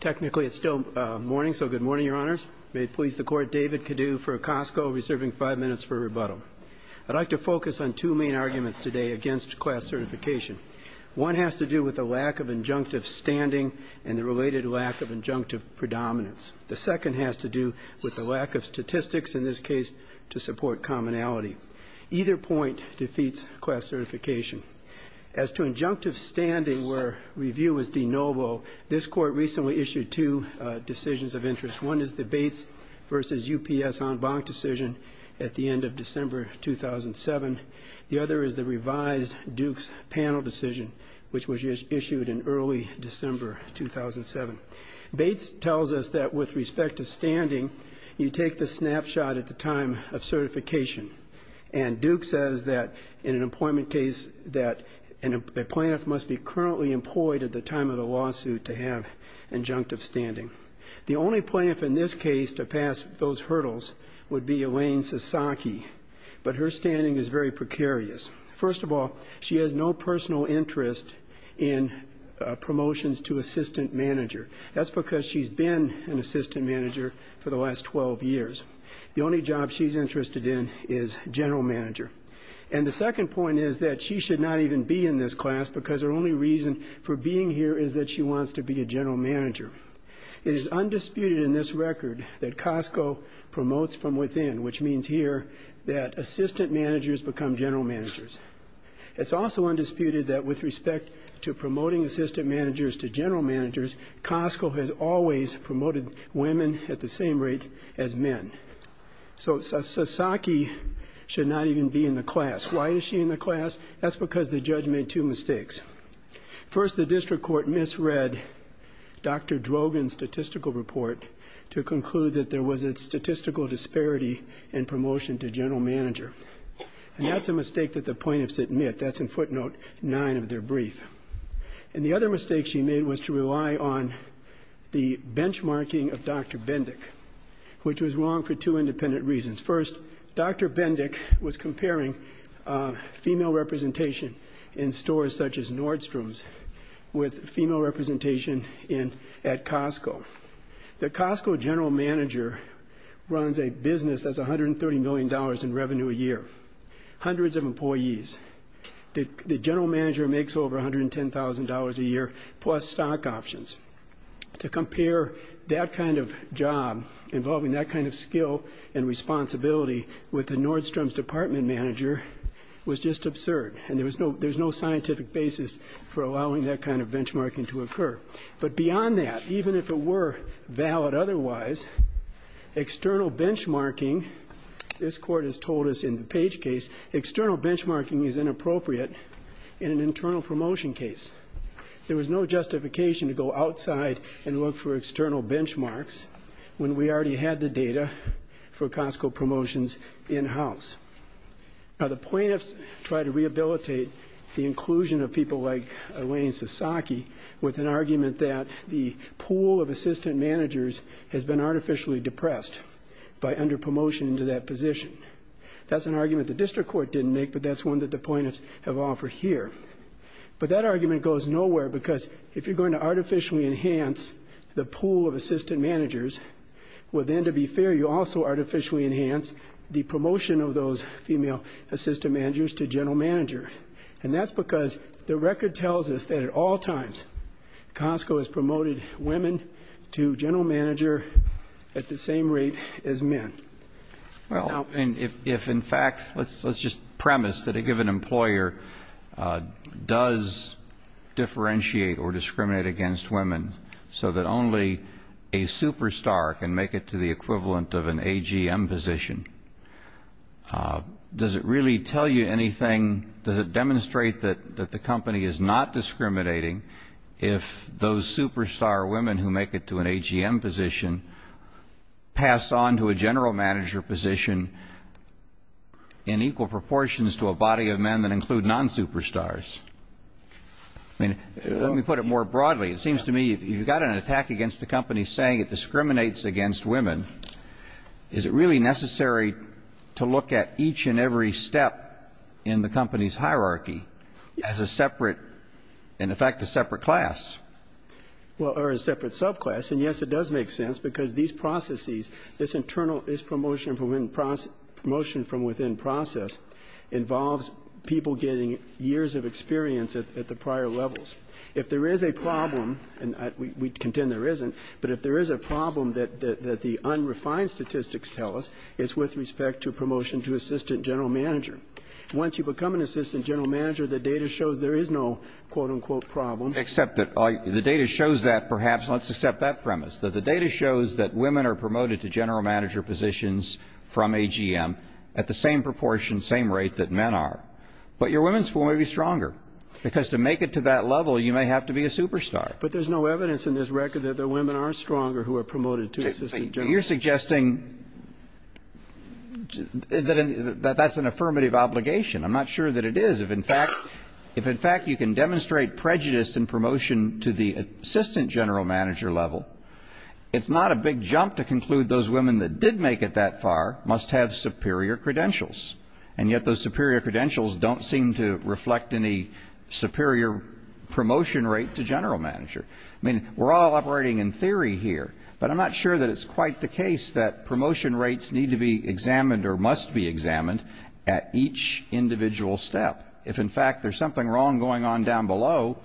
Technically, it's still morning, so good morning, Your Honors. May it please the Court, David Cadieu for Costco, reserving five minutes for rebuttal. I'd like to focus on two main arguments today against class certification. One has to do with the lack of injunctive standing and the related lack of injunctive predominance. The second has to do with the lack of statistics, in this case, to support commonality. Either point defeats class certification. As to injunctive standing, where review is de novo, this Court recently issued two decisions of interest. One is the Bates v. UPS en banc decision at the end of December 2007. The other is the revised Dukes panel decision, which was issued in early December 2007. Bates tells us that with respect to standing, you take the snapshot at the time of certification. And Duke says that in an employment case that a plaintiff must be currently employed at the time of the lawsuit to have injunctive standing. The only plaintiff in this case to pass those hurdles would be Elaine Sasaki, but her standing is very precarious. First of all, she has no personal interest in promotions to assistant manager. That's because she's been an assistant manager for the last 12 years. The only job she's interested in is general manager. And the second point is that she should not even be in this class because her only reason for being here is that she wants to be a general manager. It is undisputed in this record that Costco promotes from within, which means here that assistant managers become general managers. It's also undisputed that with respect to promoting assistant managers to general managers, Costco has always promoted women at the same rate as men. So Sasaki should not even be in the class. Why is she in the class? That's because the judge made two mistakes. First, the district court misread Dr. Drogan's statistical report to conclude that there was a statistical disparity in promotion to general manager. And that's a mistake that the plaintiffs admit. That's in footnote nine of their brief. And the other mistake she made was to rely on the benchmarking of Dr. Bendick, which was wrong for two independent reasons. First, Dr. Bendick was comparing female representation in stores such as Nordstrom's with female representation at Costco. The Costco general manager runs a business that's $130 million in revenue a year. Hundreds of employees. The general manager makes over $110,000 a year plus stock options. To compare that kind of job involving that kind of skill and responsibility with the Nordstrom's department manager was just absurd. And there's no scientific basis for allowing that kind of benchmarking to occur. But beyond that, even if it were valid otherwise, external benchmarking, this court has told us in the Page case, external benchmarking is inappropriate in an internal promotion case. There was no justification to go outside and look for external benchmarks when we already had the data for Costco promotions in-house. Now the plaintiffs tried to rehabilitate the inclusion of people like Elaine Sasaki with an argument that the pool of assistant managers has been artificially depressed by under promotion into that position. That's an argument the district court didn't make, but that's one that the plaintiffs have offered here. But that argument goes nowhere because if you're going to artificially enhance the pool of assistant managers, well then to be fair, you also artificially enhance the promotion of those female assistant managers to general manager. And that's because the record tells us that at all times, Costco has promoted women to general manager at the same rate as men. Well, and if in fact, let's just premise that a given employer does differentiate or discriminate against women so that only a superstar can make it to the equivalent of an AGM position. Does it really tell you anything, does it demonstrate that the company is not discriminating if those superstar women who make it to an AGM position pass on to a general manager position in equal proportions to a body of men that include non-superstars? I mean, let me put it more broadly. It seems to me if you've got an attack against a company saying it discriminates against women, is it really necessary to look at each and every step in the company's hierarchy as a separate, in effect, a separate class? Well, or a separate subclass, and yes, it does make sense because these processes, this internal, this promotion from within process involves people getting years of experience at the prior levels. If there is a problem, and we contend there isn't, but if there is a problem that the unrefined statistics tell us, it's with respect to promotion to assistant general manager. Once you become an assistant general manager, the data shows there is no, quote, unquote, problem. Except that the data shows that perhaps, let's accept that premise, that the data shows that women are promoted to general manager positions from AGM at the same proportion, same rate that men are. But your women's pool may be stronger because to make it to that level, you may have to be a superstar. But there's no evidence in this record that the women are stronger who are promoted to assistant general manager. You're suggesting that that's an affirmative obligation. I'm not sure that it is. If, in fact, you can demonstrate prejudice in promotion to the assistant general manager level, it's not a big jump to conclude those women that did make it that far must have superior credentials. And yet those superior credentials don't seem to reflect any superior promotion rate to general manager. I mean, we're all operating in theory here, but I'm not sure that it's quite the case that promotion rates need to be examined or must be examined at each individual step. If, in fact, there's something wrong going on down below,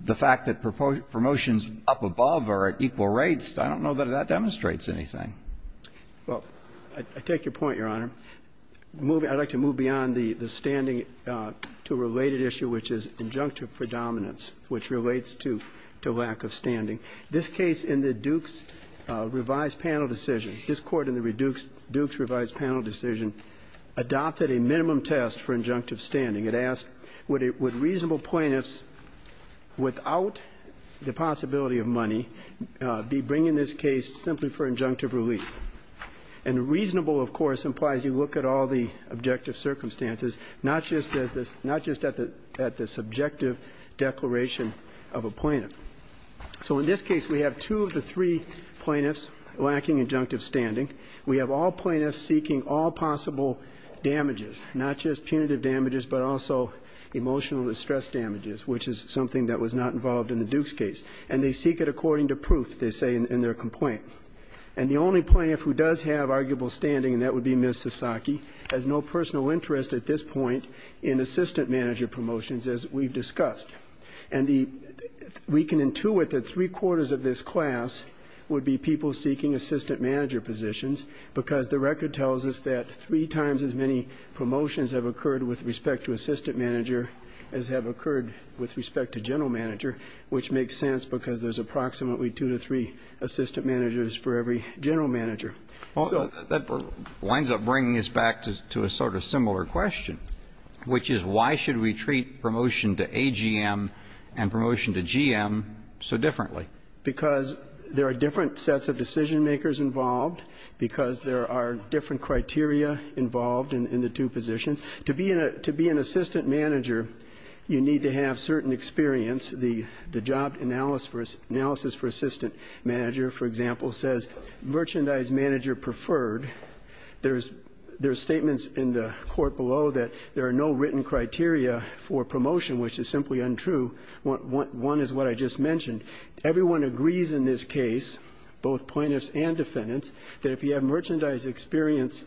the fact that promotions up above are at equal rates, I don't know that that demonstrates anything. Well, I take your point, Your Honor. I'd like to move beyond the standing to a related issue, which is injunctive predominance, which relates to lack of standing. This case in the Duke's revised panel decision, this court in the Duke's revised panel decision adopted a minimum test for injunctive standing. It asked, would reasonable plaintiffs without the possibility of money be bringing this case simply for injunctive relief? And reasonable, of course, implies you look at all the objective circumstances, not just at the subjective declaration of a plaintiff. So in this case, we have two of the three plaintiffs lacking injunctive standing. We have all plaintiffs seeking all possible damages, not just punitive damages, but also emotional distress damages, which is something that was not involved in the Duke's case. And they seek it according to proof, they say in their complaint. And the only plaintiff who does have arguable standing, and that would be Ms. Sasaki, has no personal interest at this point in assistant manager promotions, as we've discussed. And we can intuit that three quarters of this class would be people seeking assistant manager positions. Because the record tells us that three times as many promotions have occurred with respect to assistant manager as have occurred with respect to general manager, which makes sense because there's approximately two to three assistant managers for every general manager. So- That winds up bringing us back to a sort of similar question, which is why should we treat promotion to AGM and promotion to GM so differently? Because there are different sets of decision makers involved, because there are different criteria involved in the two positions. To be an assistant manager, you need to have certain experience. The job analysis for assistant manager, for example, says merchandise manager preferred. There's statements in the court below that there are no written criteria for promotion, which is simply untrue. One is what I just mentioned. Everyone agrees in this case, both plaintiffs and defendants, that if you have merchandise experience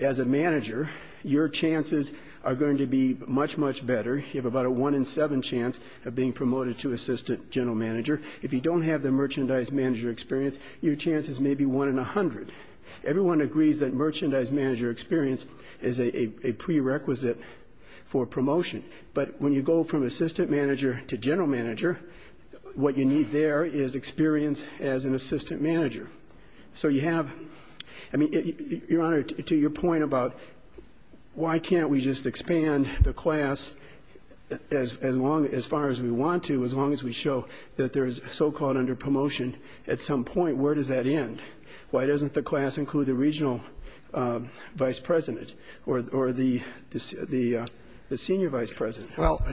as a manager, your chances are going to be much, much better. You have about a one in seven chance of being promoted to assistant general manager. If you don't have the merchandise manager experience, your chances may be one in 100. Everyone agrees that merchandise manager experience is a prerequisite for promotion. But when you go from assistant manager to general manager, what you need there is experience as an assistant manager. So you have, I mean, Your Honor, to your point about why can't we just expand the class as far as we want to, as long as we show that there is so-called under promotion, at some point, where does that end? Why doesn't the class include the regional vice president or the senior vice president? Well,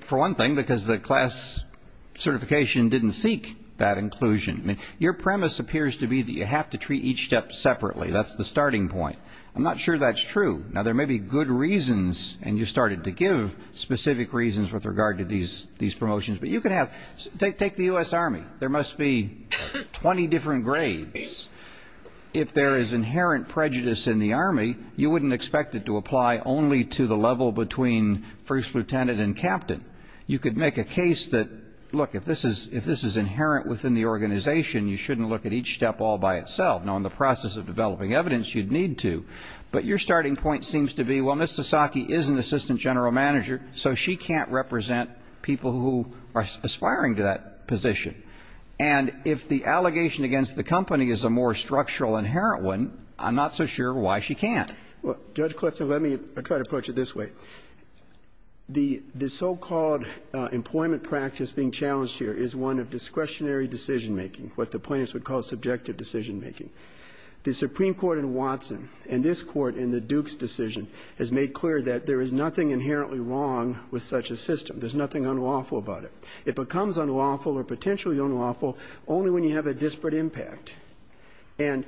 for one thing, because the class certification didn't seek that inclusion. Your premise appears to be that you have to treat each step separately. That's the starting point. I'm not sure that's true. Now, there may be good reasons, and you started to give specific reasons with regard to these promotions. But you can have, take the U.S. Army. There must be 20 different grades. If there is inherent prejudice in the Army, you wouldn't expect it to apply only to the level between first lieutenant and captain. You could make a case that, look, if this is inherent within the organization, you shouldn't look at each step all by itself. Now, in the process of developing evidence, you'd need to. But your starting point seems to be, well, Ms. Sasaki is an assistant general manager, so she can't represent people who are aspiring to that position. And if the allegation against the company is a more structural inherent one, I'm not so sure why she can't. Well, Judge Clifton, let me try to approach it this way. The so-called employment practice being challenged here is one of discretionary decision making, what the plaintiffs would call subjective decision making. The Supreme Court in Watson, and this court in the Duke's decision, has made clear that there is nothing inherently wrong with such a system. There's nothing unlawful about it. It becomes unlawful or potentially unlawful only when you have a disparate impact. And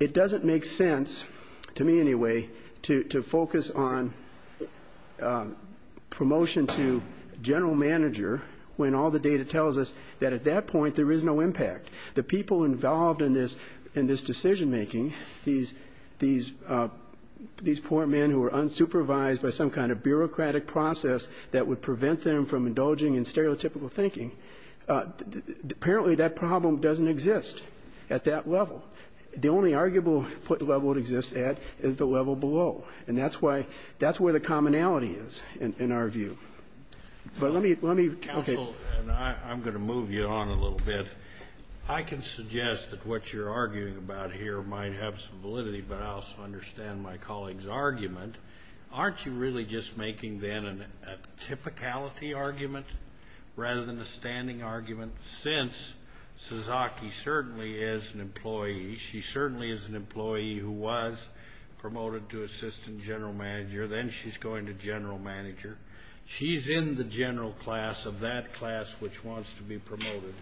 it doesn't make sense, to me anyway, to focus on promotion to general manager when all the data tells us that at that point there is no impact. The people involved in this decision making, these poor men who are unsupervised by some kind of bureaucratic process that would prevent them from indulging in stereotypical thinking, apparently that problem doesn't exist at that level. The only arguable level it exists at is the level below. And that's why, that's where the commonality is in our view. But let me, let me. Counsel, and I'm going to move you on a little bit. I can suggest that what you're arguing about here might have some validity, but I also understand my colleague's argument. Aren't you really just making then a typicality argument rather than a standing argument, since Suzaki certainly is an employee. She certainly is an employee who was promoted to assistant general manager. Then she's going to general manager. She's in the general class of that class which wants to be promoted.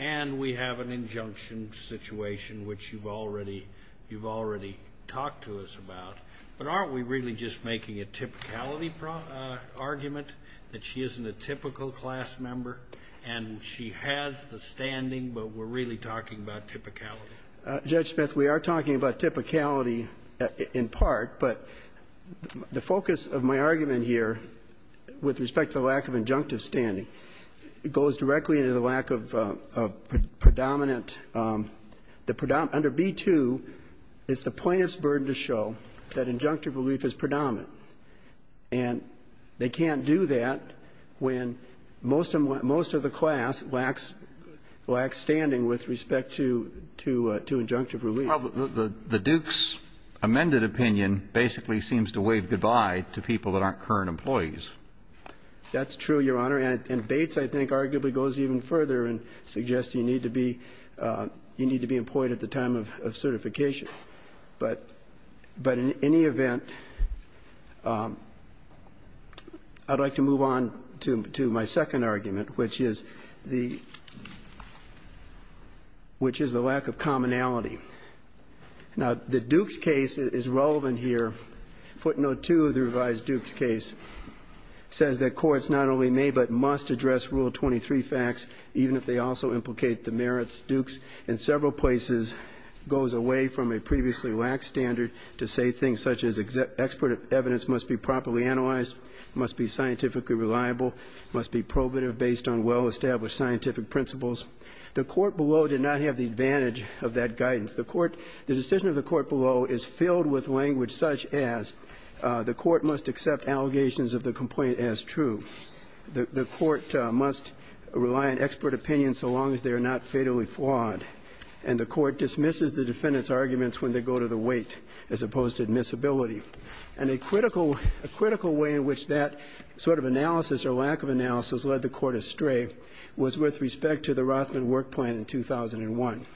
And we have an injunction situation which you've already, you've already talked to us about. But aren't we really just making a typicality argument that she isn't a typical class member and she has the standing, but we're really talking about typicality? Judge Smith, we are talking about typicality in part, but the focus of my argument here with respect to the lack of injunctive standing goes directly into the lack of predominant, the predominant, under B-2 is the plaintiff's burden to show that injunctive relief is predominant. And they can't do that when most of the class lacks standing with respect to injunctive relief. Well, the Duke's amended opinion basically seems to wave goodbye to people that aren't current employees. That's true, Your Honor. And Bates, I think, arguably goes even further and suggests you need to be, you need to be employed at the time of certification. But in any event, I'd like to move on to my second argument, which is the lack of commonality. Now, the Duke's case is relevant here. Footnote 2 of the revised Duke's case says that courts not only may but must address Rule 23 facts even if they also implicate the merits. Duke's, in several places, goes away from a previously lax standard to say things such as expert evidence must be properly analyzed, must be scientifically reliable, must be probative based on well-established scientific principles. The court below did not have the advantage of that guidance. The court, the decision of the court below is filled with language such as the court must accept allegations of the complaint as true. The court must rely on expert opinion so long as they are not fatally flawed. And the court dismisses the defendant's arguments when they go to the weight as opposed to admissibility. And a critical, a critical way in which that sort of analysis or lack of analysis led the court astray was with respect to the Rothman work plan in 2001.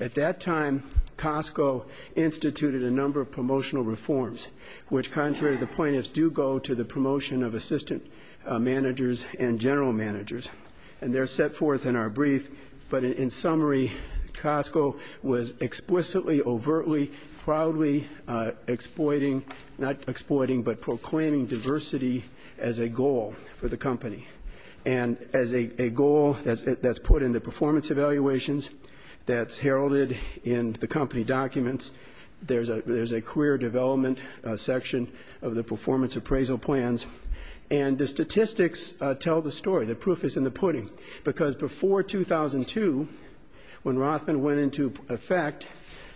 At that time, Costco instituted a number of promotional reforms, which contrary to the managers and general managers, and they're set forth in our brief. But in summary, Costco was explicitly, overtly, proudly exploiting, not exploiting, but proclaiming diversity as a goal for the company. And as a goal that's put in the performance evaluations, that's heralded in the company documents. There's a career development section of the performance appraisal plans. And the statistics tell the story, the proof is in the pudding. Because before 2002, when Rothman went into effect,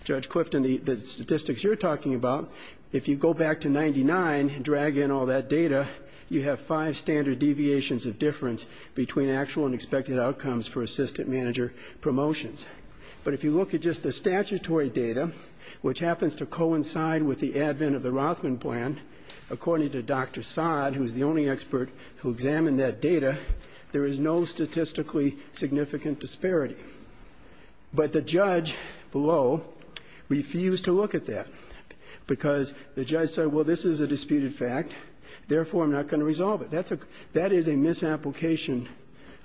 Judge Clifton, the statistics you're talking about, if you go back to 99 and drag in all that data, you have five standard deviations of difference between actual and expected outcomes for assistant manager promotions. But if you look at just the statutory data, which happens to coincide with the advent of the Rothman plan, according to Dr. Saad, who's the only expert who examined that data, there is no statistically significant disparity. But the judge below refused to look at that, because the judge said, well, this is a disputed fact, therefore, I'm not going to resolve it. That is a misapplication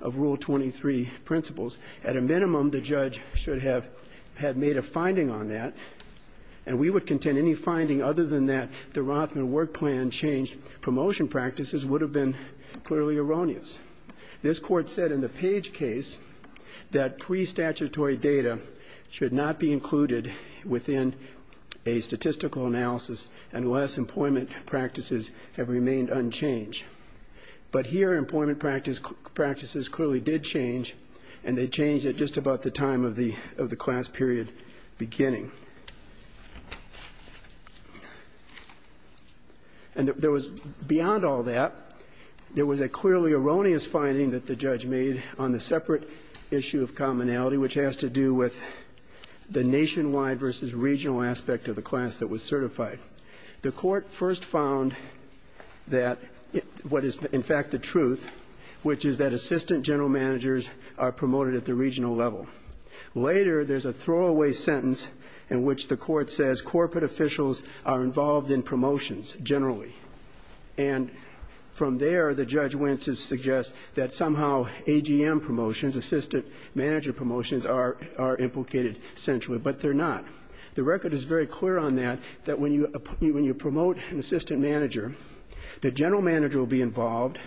of Rule 23 principles. At a minimum, the judge should have had made a finding on that. And we would contend any finding other than that the Rothman work plan changed promotion practices would have been clearly erroneous. This court said in the Page case that pre-statutory data should not be included within a statistical analysis unless employment practices have remained unchanged. But here, employment practices clearly did change, and they changed at just about the time of the class period beginning. And there was, beyond all that, there was a clearly erroneous finding that the judge made on the separate issue of commonality, which has to do with the nationwide versus regional aspect of the class that was certified. The court first found that, what is in fact the truth, which is that assistant general managers are promoted at the regional level. Later, there's a throwaway sentence in which the court says corporate officials are involved in promotions generally. And from there, the judge went to suggest that somehow AGM promotions, assistant manager promotions, are implicated centrally, but they're not. The record is very clear on that, that when you promote an assistant manager, the general manager will be involved,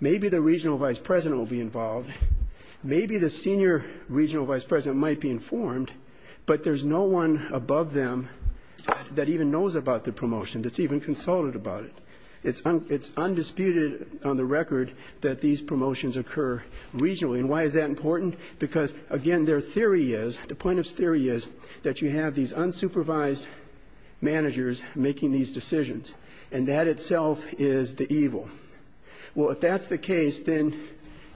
maybe the regional vice president will be involved, maybe the senior regional vice president might be informed, but there's no one above them that even knows about the promotion, that's even consulted about it. It's undisputed on the record that these promotions occur regionally. And why is that important? Because, again, their theory is, the plaintiff's theory is, that you have these unsupervised managers making these decisions. And that itself is the evil. Well, if that's the case, then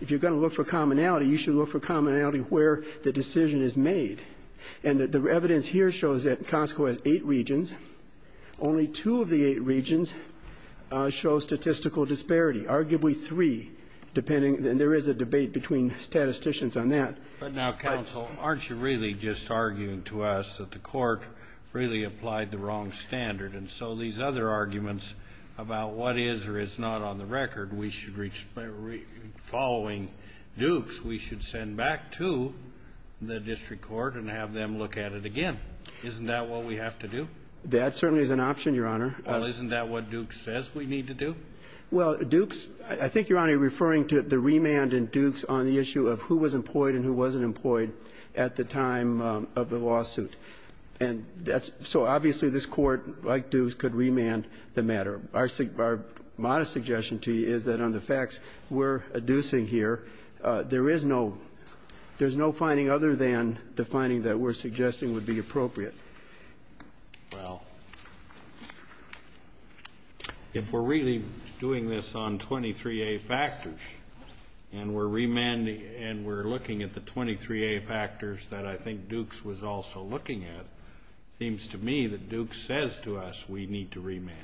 if you're going to look for commonality, you should look for commonality where the decision is made. And the evidence here shows that Costco has eight regions. Only two of the eight regions show statistical disparity, arguably three, depending, and there is a debate between statisticians on that. But now, counsel, aren't you really just arguing to us that the court really applied the wrong standard? And so these other arguments about what is or is not on the record, we should, following Dukes, we should send back to the district court and have them look at it again. Isn't that what we have to do? That certainly is an option, Your Honor. Well, isn't that what Dukes says we need to do? Well, Dukes, I think, Your Honor, you're referring to the remand in Dukes on the issue of who was employed and who wasn't employed at the time of the lawsuit. And that's, so obviously this court, like Dukes, could remand the matter. Our modest suggestion to you is that on the facts we're adducing here, there is no, there's no finding other than the finding that we're suggesting would be appropriate. Well, if we're really doing this on 23A factors, and we're remanding, and we're looking at the 23A factors that I think Dukes was also looking at, it seems to me that Dukes says to us we need to remand.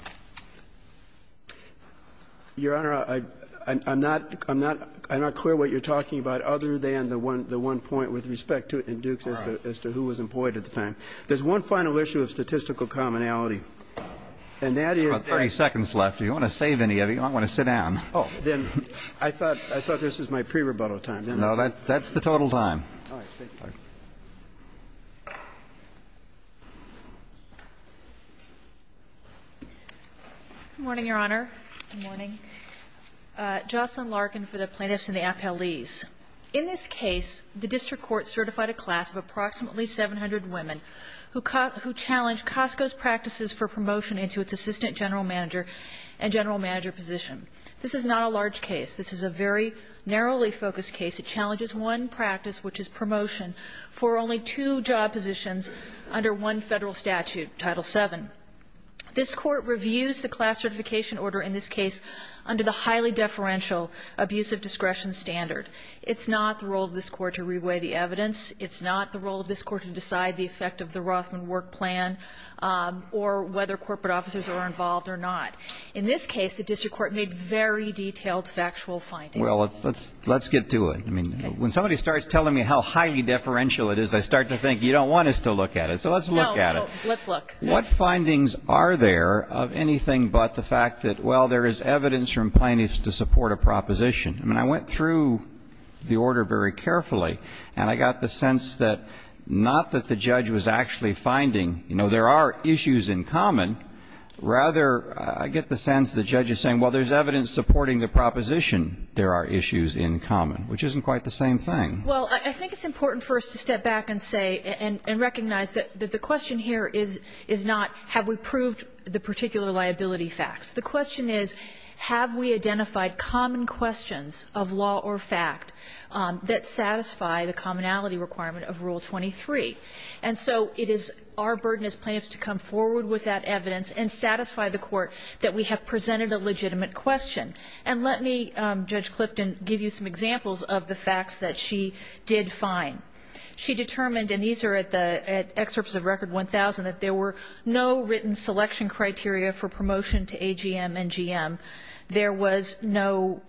Your Honor, I'm not, I'm not, I'm not clear what you're talking about, other than the one, the one point with respect to, in Dukes, as to, as to who was employed at the time. There's one final issue of statistical commonality. And that is, About 30 seconds left. Do you want to save any of it? You don't want to sit down. Oh, then, I thought, I thought this was my pre-rebuttal time, didn't I? No, that, that's the total time. All right. State your question. Good morning, Your Honor. Good morning. Jocelyn Larkin for the Plaintiffs and the Appellees. In this case, the district court certified a class of approximately 700 women who, who challenged Costco's practices for promotion into its assistant general manager and general manager position. This is not a large case. This is a very narrowly focused case. It challenges one practice, which is promotion for only two job positions under one Federal statute, Title VII. This Court reviews the class certification order in this case under the highly deferential abuse of discretion standard. It's not the role of this Court to reweigh the evidence. It's not the role of this Court to decide the effect of the Rothman work plan or whether corporate officers are involved or not. In this case, the district court made very detailed factual findings. Well, let's, let's, let's get to it. I mean, when somebody starts telling me how highly deferential it is, I start to think you don't want us to look at it. So let's look at it. Let's look. What findings are there of anything but the fact that, well, there is evidence from plaintiffs to support a proposition? I mean, I went through the order very carefully, and I got the sense that not that the judge was actually finding, you know, there are issues in common. Rather, I get the sense the judge is saying, well, there's evidence supporting the proposition there are issues in common, which isn't quite the same thing. Well, I think it's important for us to step back and say and recognize that the question here is not have we proved the particular liability facts. The question is have we identified common questions of law or fact that satisfy the commonality requirement of Rule 23. And so it is our burden as plaintiffs to come forward with that evidence and satisfy the court that we have presented a legitimate question. And let me, Judge Clifton, give you some examples of the facts that she did find. She determined, and these are at the excerpts of Record 1000, that there were no written selection criteria for promotion to AGM and GM. There was no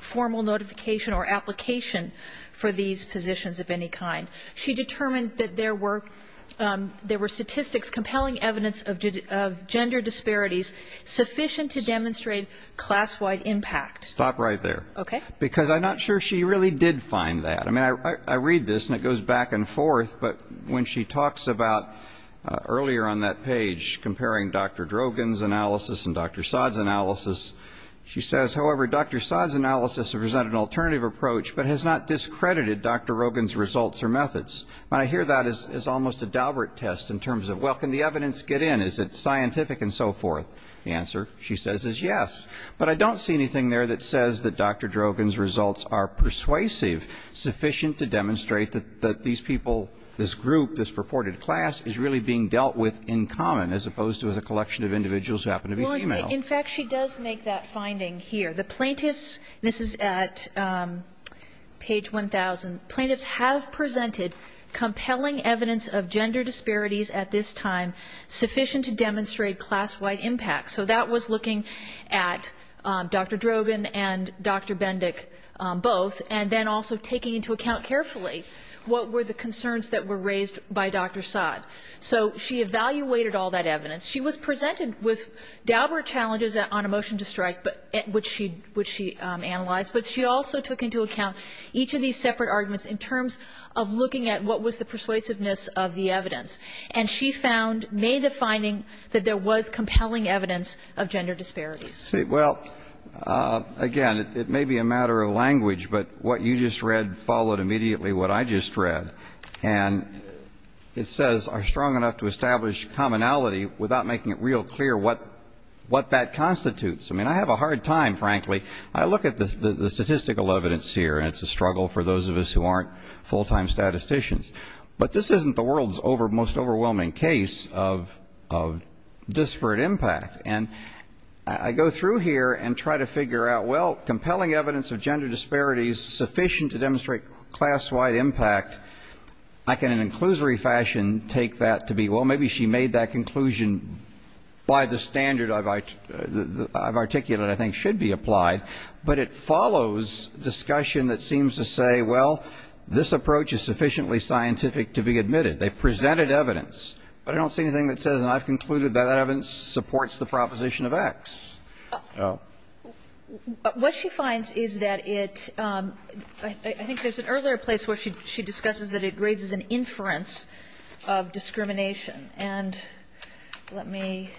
formal notification or application for these positions of any kind. She determined that there were statistics compelling evidence of gender disparities sufficient to demonstrate class-wide impact. Stop right there. Okay. Because I'm not sure she really did find that. I mean, I read this, and it goes back and forth, but when she talks about earlier on that page comparing Dr. Drogan's analysis and Dr. Saad's analysis, she says, however, Dr. Saad's analysis has presented an alternative approach but has not discredited Dr. Drogan's results or methods. When I hear that, it's almost a Dalbert test in terms of, well, can the evidence get in? Is it scientific and so forth? The answer, she says, is yes. But I don't see anything there that says that Dr. Drogan's results are persuasive, sufficient to demonstrate that these people, this group, this purported class, is really being dealt with in common as opposed to a collection of individuals who happen to be female. In fact, she does make that finding here. The plaintiffs, this is at page 1,000, plaintiffs have presented compelling evidence of gender disparities at this time sufficient to demonstrate class-wide impact. So that was looking at Dr. Drogan and Dr. Bendick both, and then also taking into account carefully what were the concerns that were raised by Dr. Saad. So she evaluated all that evidence. She was presented with Dalbert challenges on a motion to strike, which she analyzed. But she also took into account each of these separate arguments in terms of looking at what was the persuasiveness of the evidence. And she found, made the finding, that there was compelling evidence of gender disparities. Well, again, it may be a matter of language, but what you just read followed immediately what I just read. And it says, are strong enough to establish commonality without making it real clear what that constitutes. I mean, I have a hard time, frankly. I look at the statistical evidence here, and it's a struggle for those of us who aren't full-time statisticians. But this isn't the world's most overwhelming case of disparate impact. And I go through here and try to figure out, well, compelling evidence of gender disparity is sufficient to demonstrate class-wide impact. I can, in an inclusory fashion, take that to be, well, maybe she made that conclusion by the standard I've articulated, I think should be applied. But it follows discussion that seems to say, well, this approach is sufficiently scientific to be admitted. They've presented evidence, but I don't see anything that says, and I've concluded, that evidence supports the proposition of X. So what she finds is that it, I think there's an earlier place where she discusses that it raises an inference of discrimination. And let me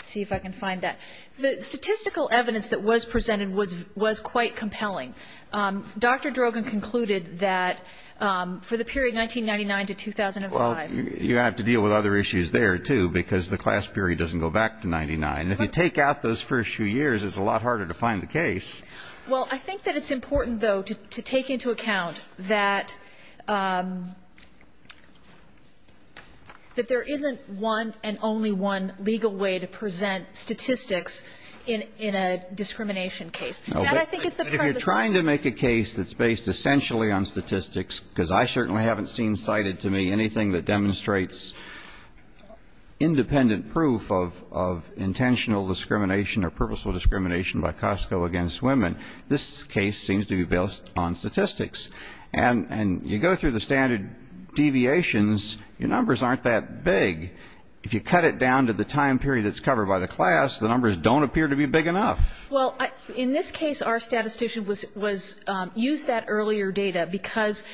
see if I can find that. The statistical evidence that was presented was quite compelling. Dr. Drogen concluded that for the period 1999 to 2005 you have to deal with other issues there, too, because the class period doesn't go back to 99. If you take out those first few years, it's a lot harder to find the case. Well, I think that it's important, though, to take into account that there isn't one and only one legal way to present statistics in a discrimination case. That, I think, is the purpose of it. If you're trying to make a case that's based essentially on statistics, because I certainly haven't seen cited to me anything that demonstrates independent proof of intentional discrimination or purposeful discrimination by Costco against women, this case seems to be based on statistics. And you go through the standard deviations, your numbers aren't that big. If you cut it down to the time period that's covered by the class, the numbers don't appear to be big enough. Well, in this case, our statistician was used that earlier data because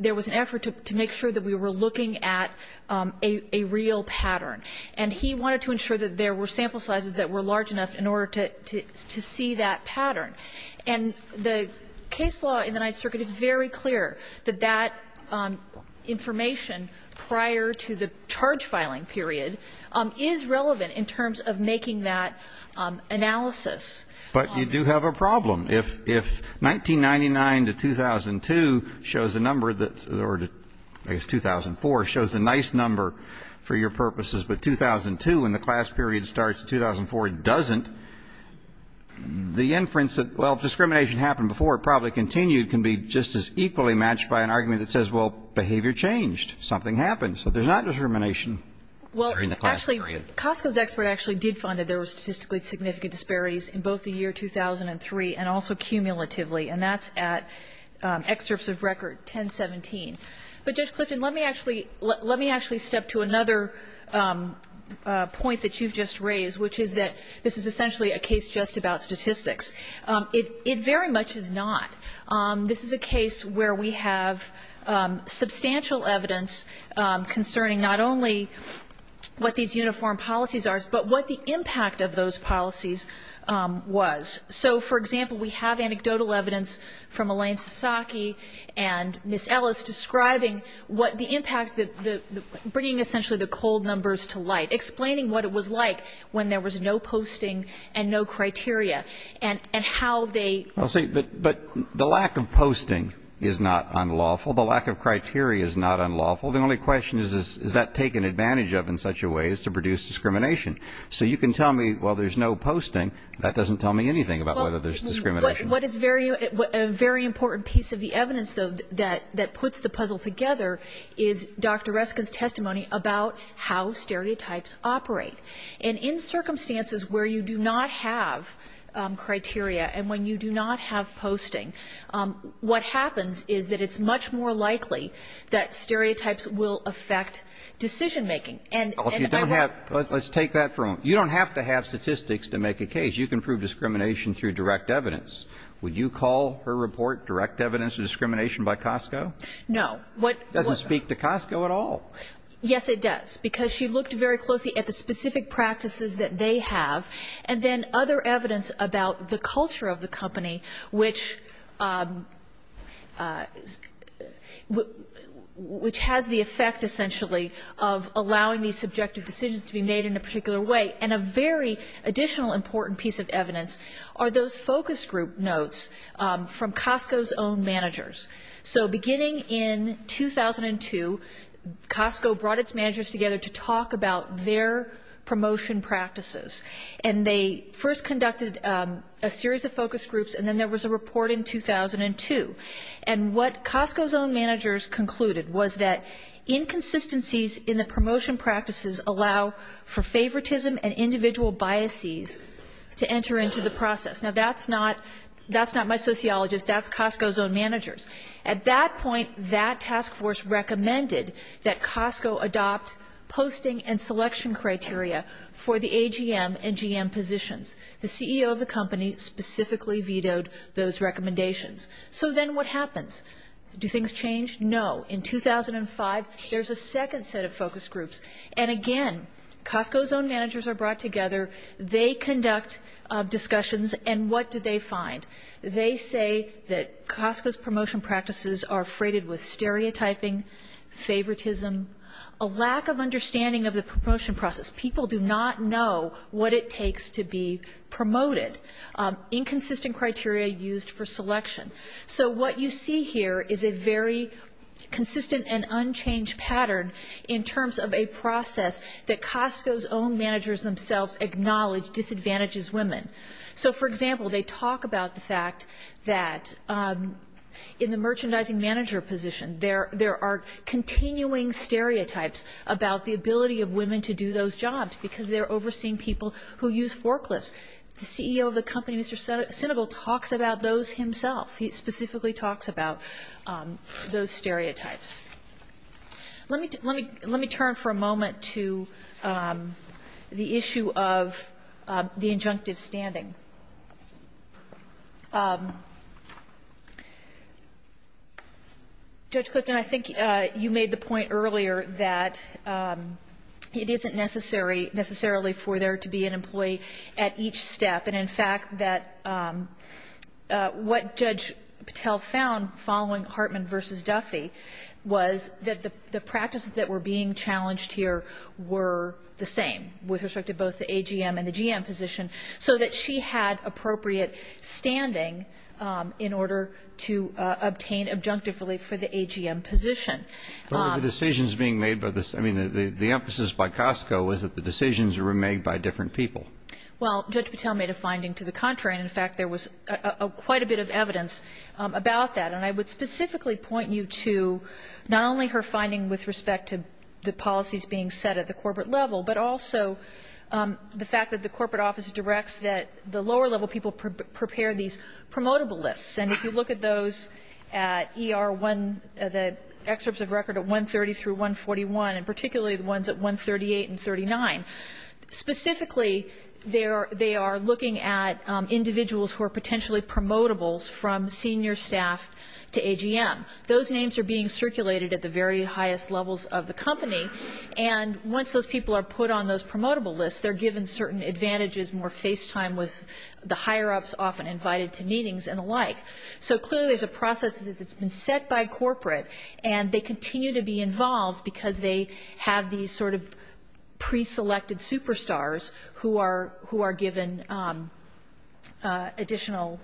there was an effort to make sure that we were looking at a real pattern. And he wanted to ensure that there were sample sizes that were large enough in order to see that pattern. And the case law in the Ninth Circuit is very clear that that information prior to the charge filing period is relevant in terms of making that analysis But you do have a problem. If 1999 to 2002 shows a number that's, or 2004 shows a nice number for your purposes, but 2002 when the class period starts, 2004 doesn't, the inference that, well, if discrimination happened before, it probably continued can be just as equally matched by an argument that says, well, behavior changed, something happened. So there's not discrimination during the class period. Costco's expert actually did find that there were statistically significant disparities in both the year 2003 and also cumulatively. And that's at excerpts of record 1017. But Judge Clifton, let me actually step to another point that you've just raised, which is that this is essentially a case just about statistics. It very much is not. This is a case where we have substantial evidence concerning not only what these uniform policies are, but what the impact of those policies was. So, for example, we have anecdotal evidence from Elaine Sasaki and Ms. Ellis describing what the impact, bringing essentially the cold numbers to light, explaining what it was like when there was no posting and no criteria, and how they Well, see, but the lack of posting is not unlawful. The lack of criteria is not unlawful. The only question is, is that taken advantage of in such a way as to produce discrimination? So you can tell me, well, there's no posting. That doesn't tell me anything about whether there's discrimination. What is very, a very important piece of the evidence, though, that puts the puzzle together is Dr. Reskin's testimony about how stereotypes operate. And in circumstances where you do not have criteria and when you do not have posting, what happens is that it's much more likely that stereotypes will affect decision making. And you don't have let's take that from you don't have to have statistics to make a case. You can prove discrimination through direct evidence. Would you call her report direct evidence of discrimination by Costco? No, what doesn't speak to Costco at all? Yes, it does. Because she looked very closely at the specific practices that they have, and then other evidence about the culture of the company, which has the effect, essentially, of allowing these subjective decisions to be made in a particular way. And a very additional important piece of evidence are those focus group notes from Costco's own managers. So beginning in 2002, Costco brought its managers together to talk about their promotion practices. And they first conducted a series of focus groups, and then there was a report in 2002. And what Costco's own managers concluded was that inconsistencies in the promotion practices allow for favoritism and individual biases to enter into the process. Now, that's not my sociologist. That's Costco's own managers. At that point, that task force recommended that Costco adopt posting and selection criteria for the AGM and GM positions. The CEO of the company specifically vetoed those recommendations. So then what happens? Do things change? No. In 2005, there's a second set of focus groups. And again, Costco's own managers are brought together. They conduct discussions. And what do they find? They say that Costco's promotion practices are freighted with stereotyping, favoritism, a lack of understanding of the promotion process. People do not know what it takes to be promoted. Inconsistent criteria used for selection. So what you see here is a very consistent and unchanged pattern in terms of a process that Costco's own managers themselves acknowledge disadvantages women. So for example, they talk about the fact that in the merchandising manager position, there are continuing stereotypes about the ability of women to do those jobs because they're overseeing people who use forklifts. The CEO of the company, Mr. Sinigel, talks about those himself. He specifically talks about those stereotypes. Let me turn for a moment to the issue of the injunctive standing. Judge Clifton, I think you made the point earlier that it isn't necessary necessarily for there to be an employee at each step. And in fact, that what Judge Patel found following Hartman v. Duffy was that the practices that were being challenged here were the same with respect to both the AGM and the GM position, so that she had appropriate standing in order to obtain injunctive relief for the AGM position. But the decisions being made by the emphasis by Costco was that the decisions were made by different people. Well, Judge Patel made a finding to the contrary. And in fact, there was quite a bit of evidence about that. And I would specifically point you to not only her finding with respect to the policies being set at the corporate level, but also the fact that the corporate office directs that the lower level people prepare these promotable lists. And if you look at those at ER1, the excerpts of record at 130 through 141, and particularly the ones at 138 and 39, specifically they are looking at individuals who are potentially promotables from senior staff to AGM. Those names are being circulated at the very highest levels of the company. And once those people are put on those promotable lists, they're given certain advantages, more face time with the higher-ups often invited to meetings and the like. So clearly there's a process that's been set by corporate, and they continue to be involved because they have these sort of pre-selected superstars who are given additional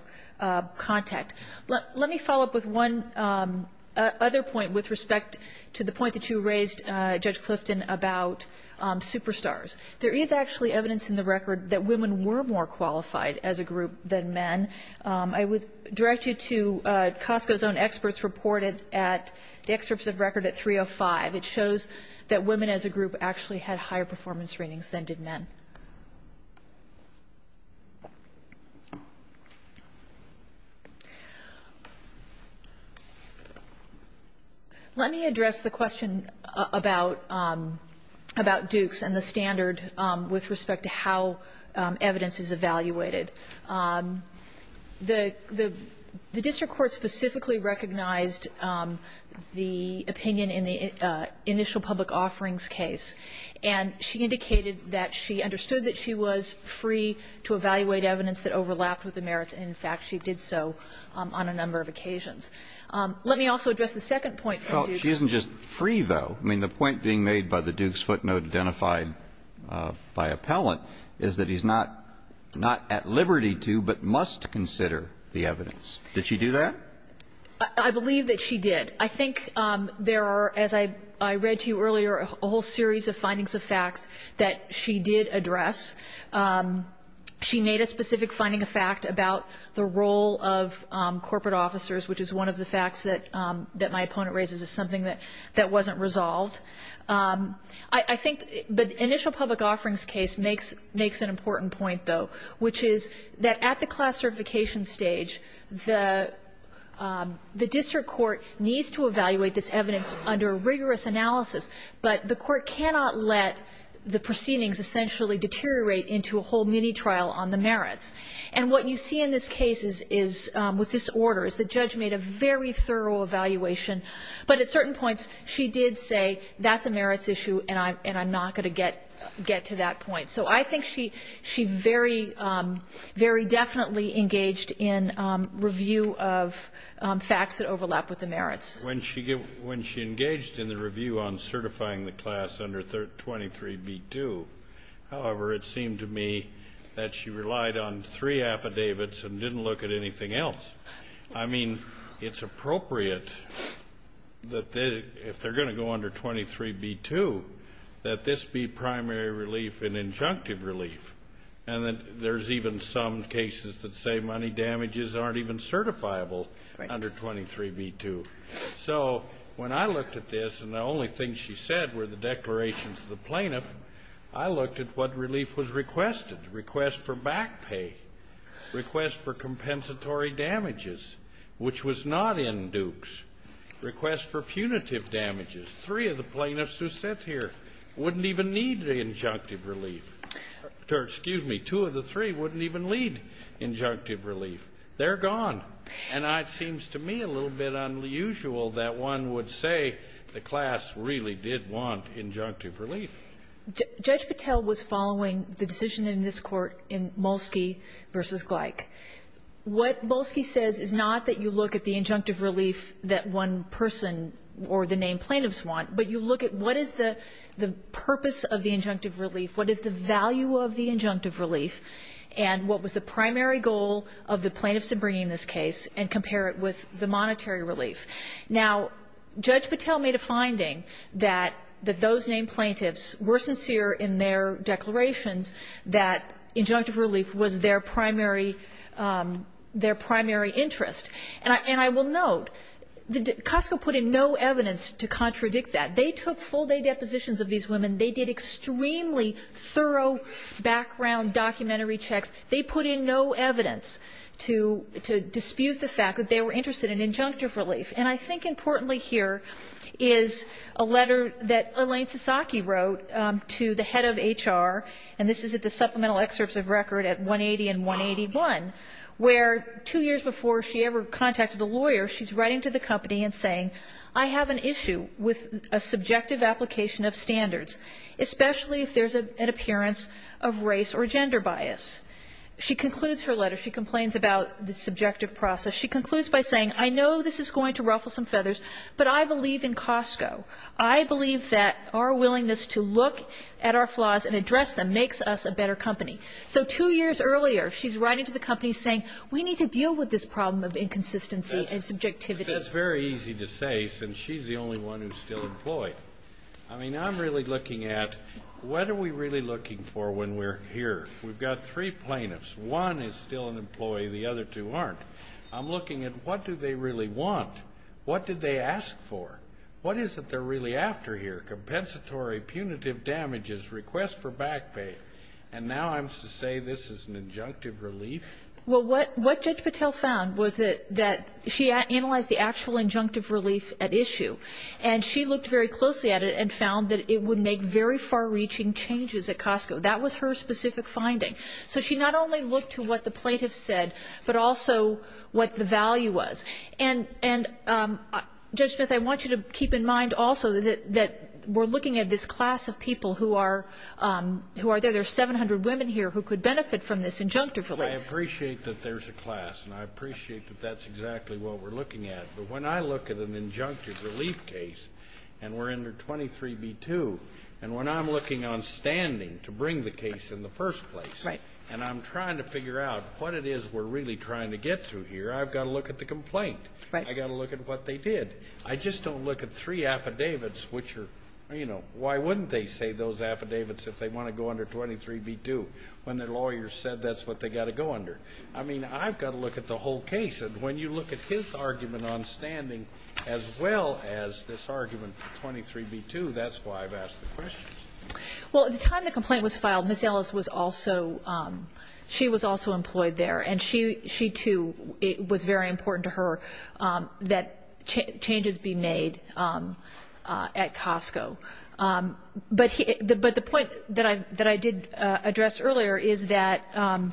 contact. Let me follow up with one other point with respect to the point that you raised, Judge Clifton, about superstars. There is actually evidence in the record that women were more qualified as a group than men. I would direct you to Costco's own experts reported at the excerpts of record at 305. It shows that women as a group actually had higher performance ratings than did men. Let me address the question about Dukes and the standard with respect to how evidence is evaluated. The district court specifically recognized the opinion in the initial public offerings case, and she indicated that she understood that she was free to evaluate evidence that overlapped with the merits. In fact, she did so on a number of occasions. Let me also address the second point from Dukes. Well, she isn't just free, though. I mean, the point being made by the Dukes footnote identified by appellant is that he's not at liberty to but must consider the evidence. Did she do that? I believe that she did. I think there are, as I read to you earlier, a whole series of findings of facts that she did address. She made a specific finding of fact about the role of corporate officers, which is one of the facts that my opponent raises as something that wasn't resolved. I think the initial public offerings case makes an important point, though, which is that at the class certification stage, the district court needs to evaluate this evidence under rigorous analysis, but the court cannot let the proceedings essentially deteriorate into a whole mini-trial on the merits. And what you see in this case is, with this order, is the judge made a very thorough evaluation, but at certain points she did say that's a merits issue and I'm not going to get to that point. So I think she very definitely engaged in review of facts that overlap with the merits. When she engaged in the review on certifying the class under 23b-2, however, it seemed to me that she relied on three affidavits and didn't look at anything else. I mean, it's appropriate that if they're going to go under 23b-2, that this be primary relief and injunctive relief, and that there's even some cases that say money damages aren't even certifiable under 23b-2. So when I looked at this, and the only thing she said were the declarations of the plaintiff, I looked at what relief was requested. Request for back pay, request for compensatory damages, which was not in Dukes, request for punitive damages. Three of the plaintiffs who sit here wouldn't even need the injunctive relief. Excuse me, two of the three wouldn't even need injunctive relief. They're gone. And it seems to me a little bit unusual that one would say the class really did want injunctive relief. Judge Patel was following the decision in this Court in Molsky v. Gleick. What Molsky says is not that you look at the injunctive relief that one person or the named plaintiffs want, but you look at what is the purpose of the injunctive relief, what is the value of the injunctive relief, and what was the primary goal of the plaintiffs in bringing this case, and compare it with the monetary relief. Now, Judge Patel made a finding that those named plaintiffs were sincere in their declarations that injunctive relief was their primary interest. And I will note, Costco put in no evidence to contradict that. They took full-day depositions of these women. They did extremely thorough background documentary checks. They put in no evidence to dispute the fact that they were interested in injunctive relief. And I think importantly here is a letter that Elaine Sasaki wrote to the head of HR, and this is at the supplemental excerpts of record at 180 and 181, where two years before she ever contacted a lawyer, she's writing to the company and saying, I have an issue with a subjective application of standards, especially if there's an appearance of race or gender bias. She concludes her letter. She complains about the subjective process. She concludes by saying, I know this is going to ruffle some feathers, but I believe in Costco. I believe that our willingness to look at our flaws and address them makes us a better company. So two years earlier, she's writing to the company saying, we need to deal with this problem of inconsistency and subjectivity. That's very easy to say since she's the only one who's still employed. I mean, I'm really looking at what are we really looking for when we're here? We've got three plaintiffs. One is still an employee. The other two aren't. I'm looking at what do they really want? What did they ask for? What is it they're really after here? Compensatory, punitive damages, request for back pay. And now I'm to say this is an injunctive relief? Well, what Judge Patel found was that she analyzed the actual injunctive relief at issue and she looked very closely at it and found that it would make very far-reaching changes at Costco. That was her specific finding. So she not only looked to what the plaintiffs said, but also what the value was. And, Judge Smith, I want you to keep in mind also that we're looking at this class of people who are there. There are 700 women here who could benefit from this injunctive relief. I appreciate that there's a class and I appreciate that that's exactly what we're looking at. But when I look at an injunctive relief case and we're under 23b-2, and when I'm looking on standing to bring the case in the first place and I'm trying to figure out what it is we're really trying to get through here, I've got to look at the complaint. I've got to look at what they did. I just don't look at three affidavits, which are, you know, why wouldn't they say those affidavits if they want to go under 23b-2 when their lawyer said that's what they've got to go under? I mean, I've got to look at the whole case. And when you look at his argument on standing as well as this argument for 23b-2, that's why I've asked the question. Well, at the time the complaint was filed, Ms. Ellis was also employed there. And she, too, it was very important to her that changes be made at Costco. But the point that I did address earlier is that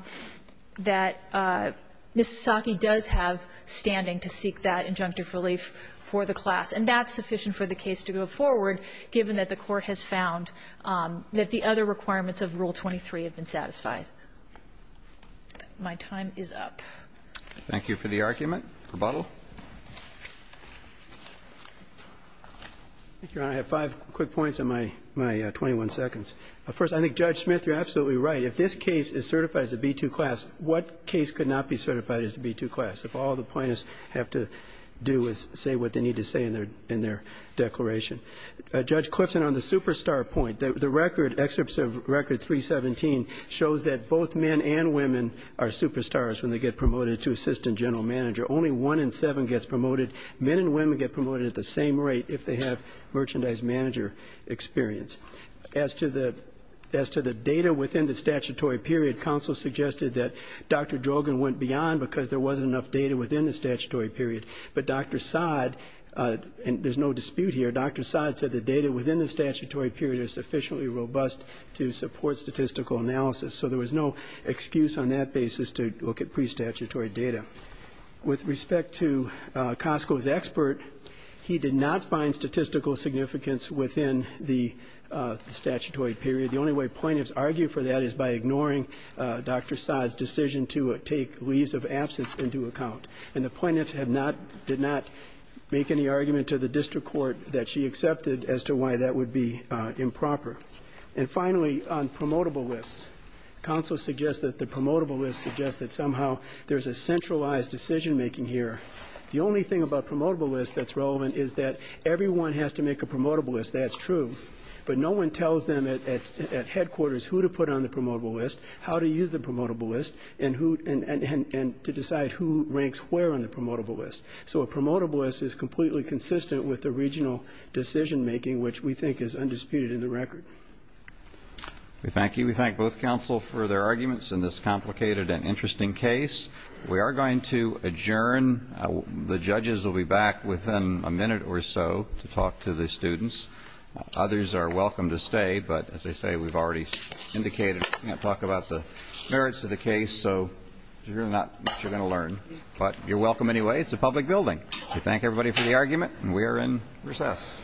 Ms. Sasaki does have standing to seek that injunctive relief for the class. And that's sufficient for the case to go forward, given that the Court has found that the other requirements of Rule 23 have been satisfied. My time is up. Thank you for the argument. Rebuttal. Thank you, Your Honor. I have five quick points on my 21 seconds. First, I think Judge Smith, you're absolutely right. If this case is certified as a B-2 class, what case could not be certified as a B-2 class? If all the plaintiffs have to do is say what they need to say in their declaration. Judge Clifton, on the superstar point, the record, Excerpt of Record 317, shows that both men and women are superstars when they get promoted to assistant general manager. Only one in seven gets promoted. Men and women get promoted at the same rate if they have merchandise manager experience. As to the data within the statutory period, counsel suggested that Dr. Drogan went beyond because there wasn't enough data within the statutory period. But Dr. Saad, and there's no dispute here, Dr. Saad said the data within the statutory period is sufficiently robust to support statistical analysis. So there was no excuse on that basis to look at pre-statutory data. With respect to Costco's expert, he did not find statistical significance within the statutory period. The only way plaintiffs argue for that is by ignoring Dr. Saad's decision to take leaves of absence into account. And the plaintiff did not make any argument to the district court that she accepted as to why that would be improper. And finally, on promotable lists, counsel suggests that the promotable lists suggest that somehow there's a centralized decision making here. The only thing about promotable lists that's relevant is that everyone has to make a promotable list, that's true. But no one tells them at headquarters who to put on the promotable list, how to use the promotable list, and to decide who ranks where on the promotable list. So a promotable list is completely consistent with the regional decision making, which we think is undisputed in the record. We thank you. We thank both counsel for their arguments in this complicated and interesting case. We are going to adjourn. The judges will be back within a minute or so to talk to the students. Others are welcome to stay, but as I say, we've already indicated we can't talk about the merits of the case, so there's really not much you're going to learn. But you're welcome anyway. It's a public building. We thank everybody for the argument, and we are in recess.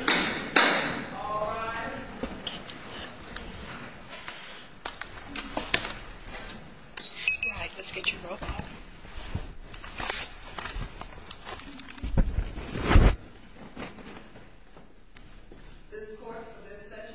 All rise. All right, let's get you both out. This court, for this session, stands adjourned. Thank you.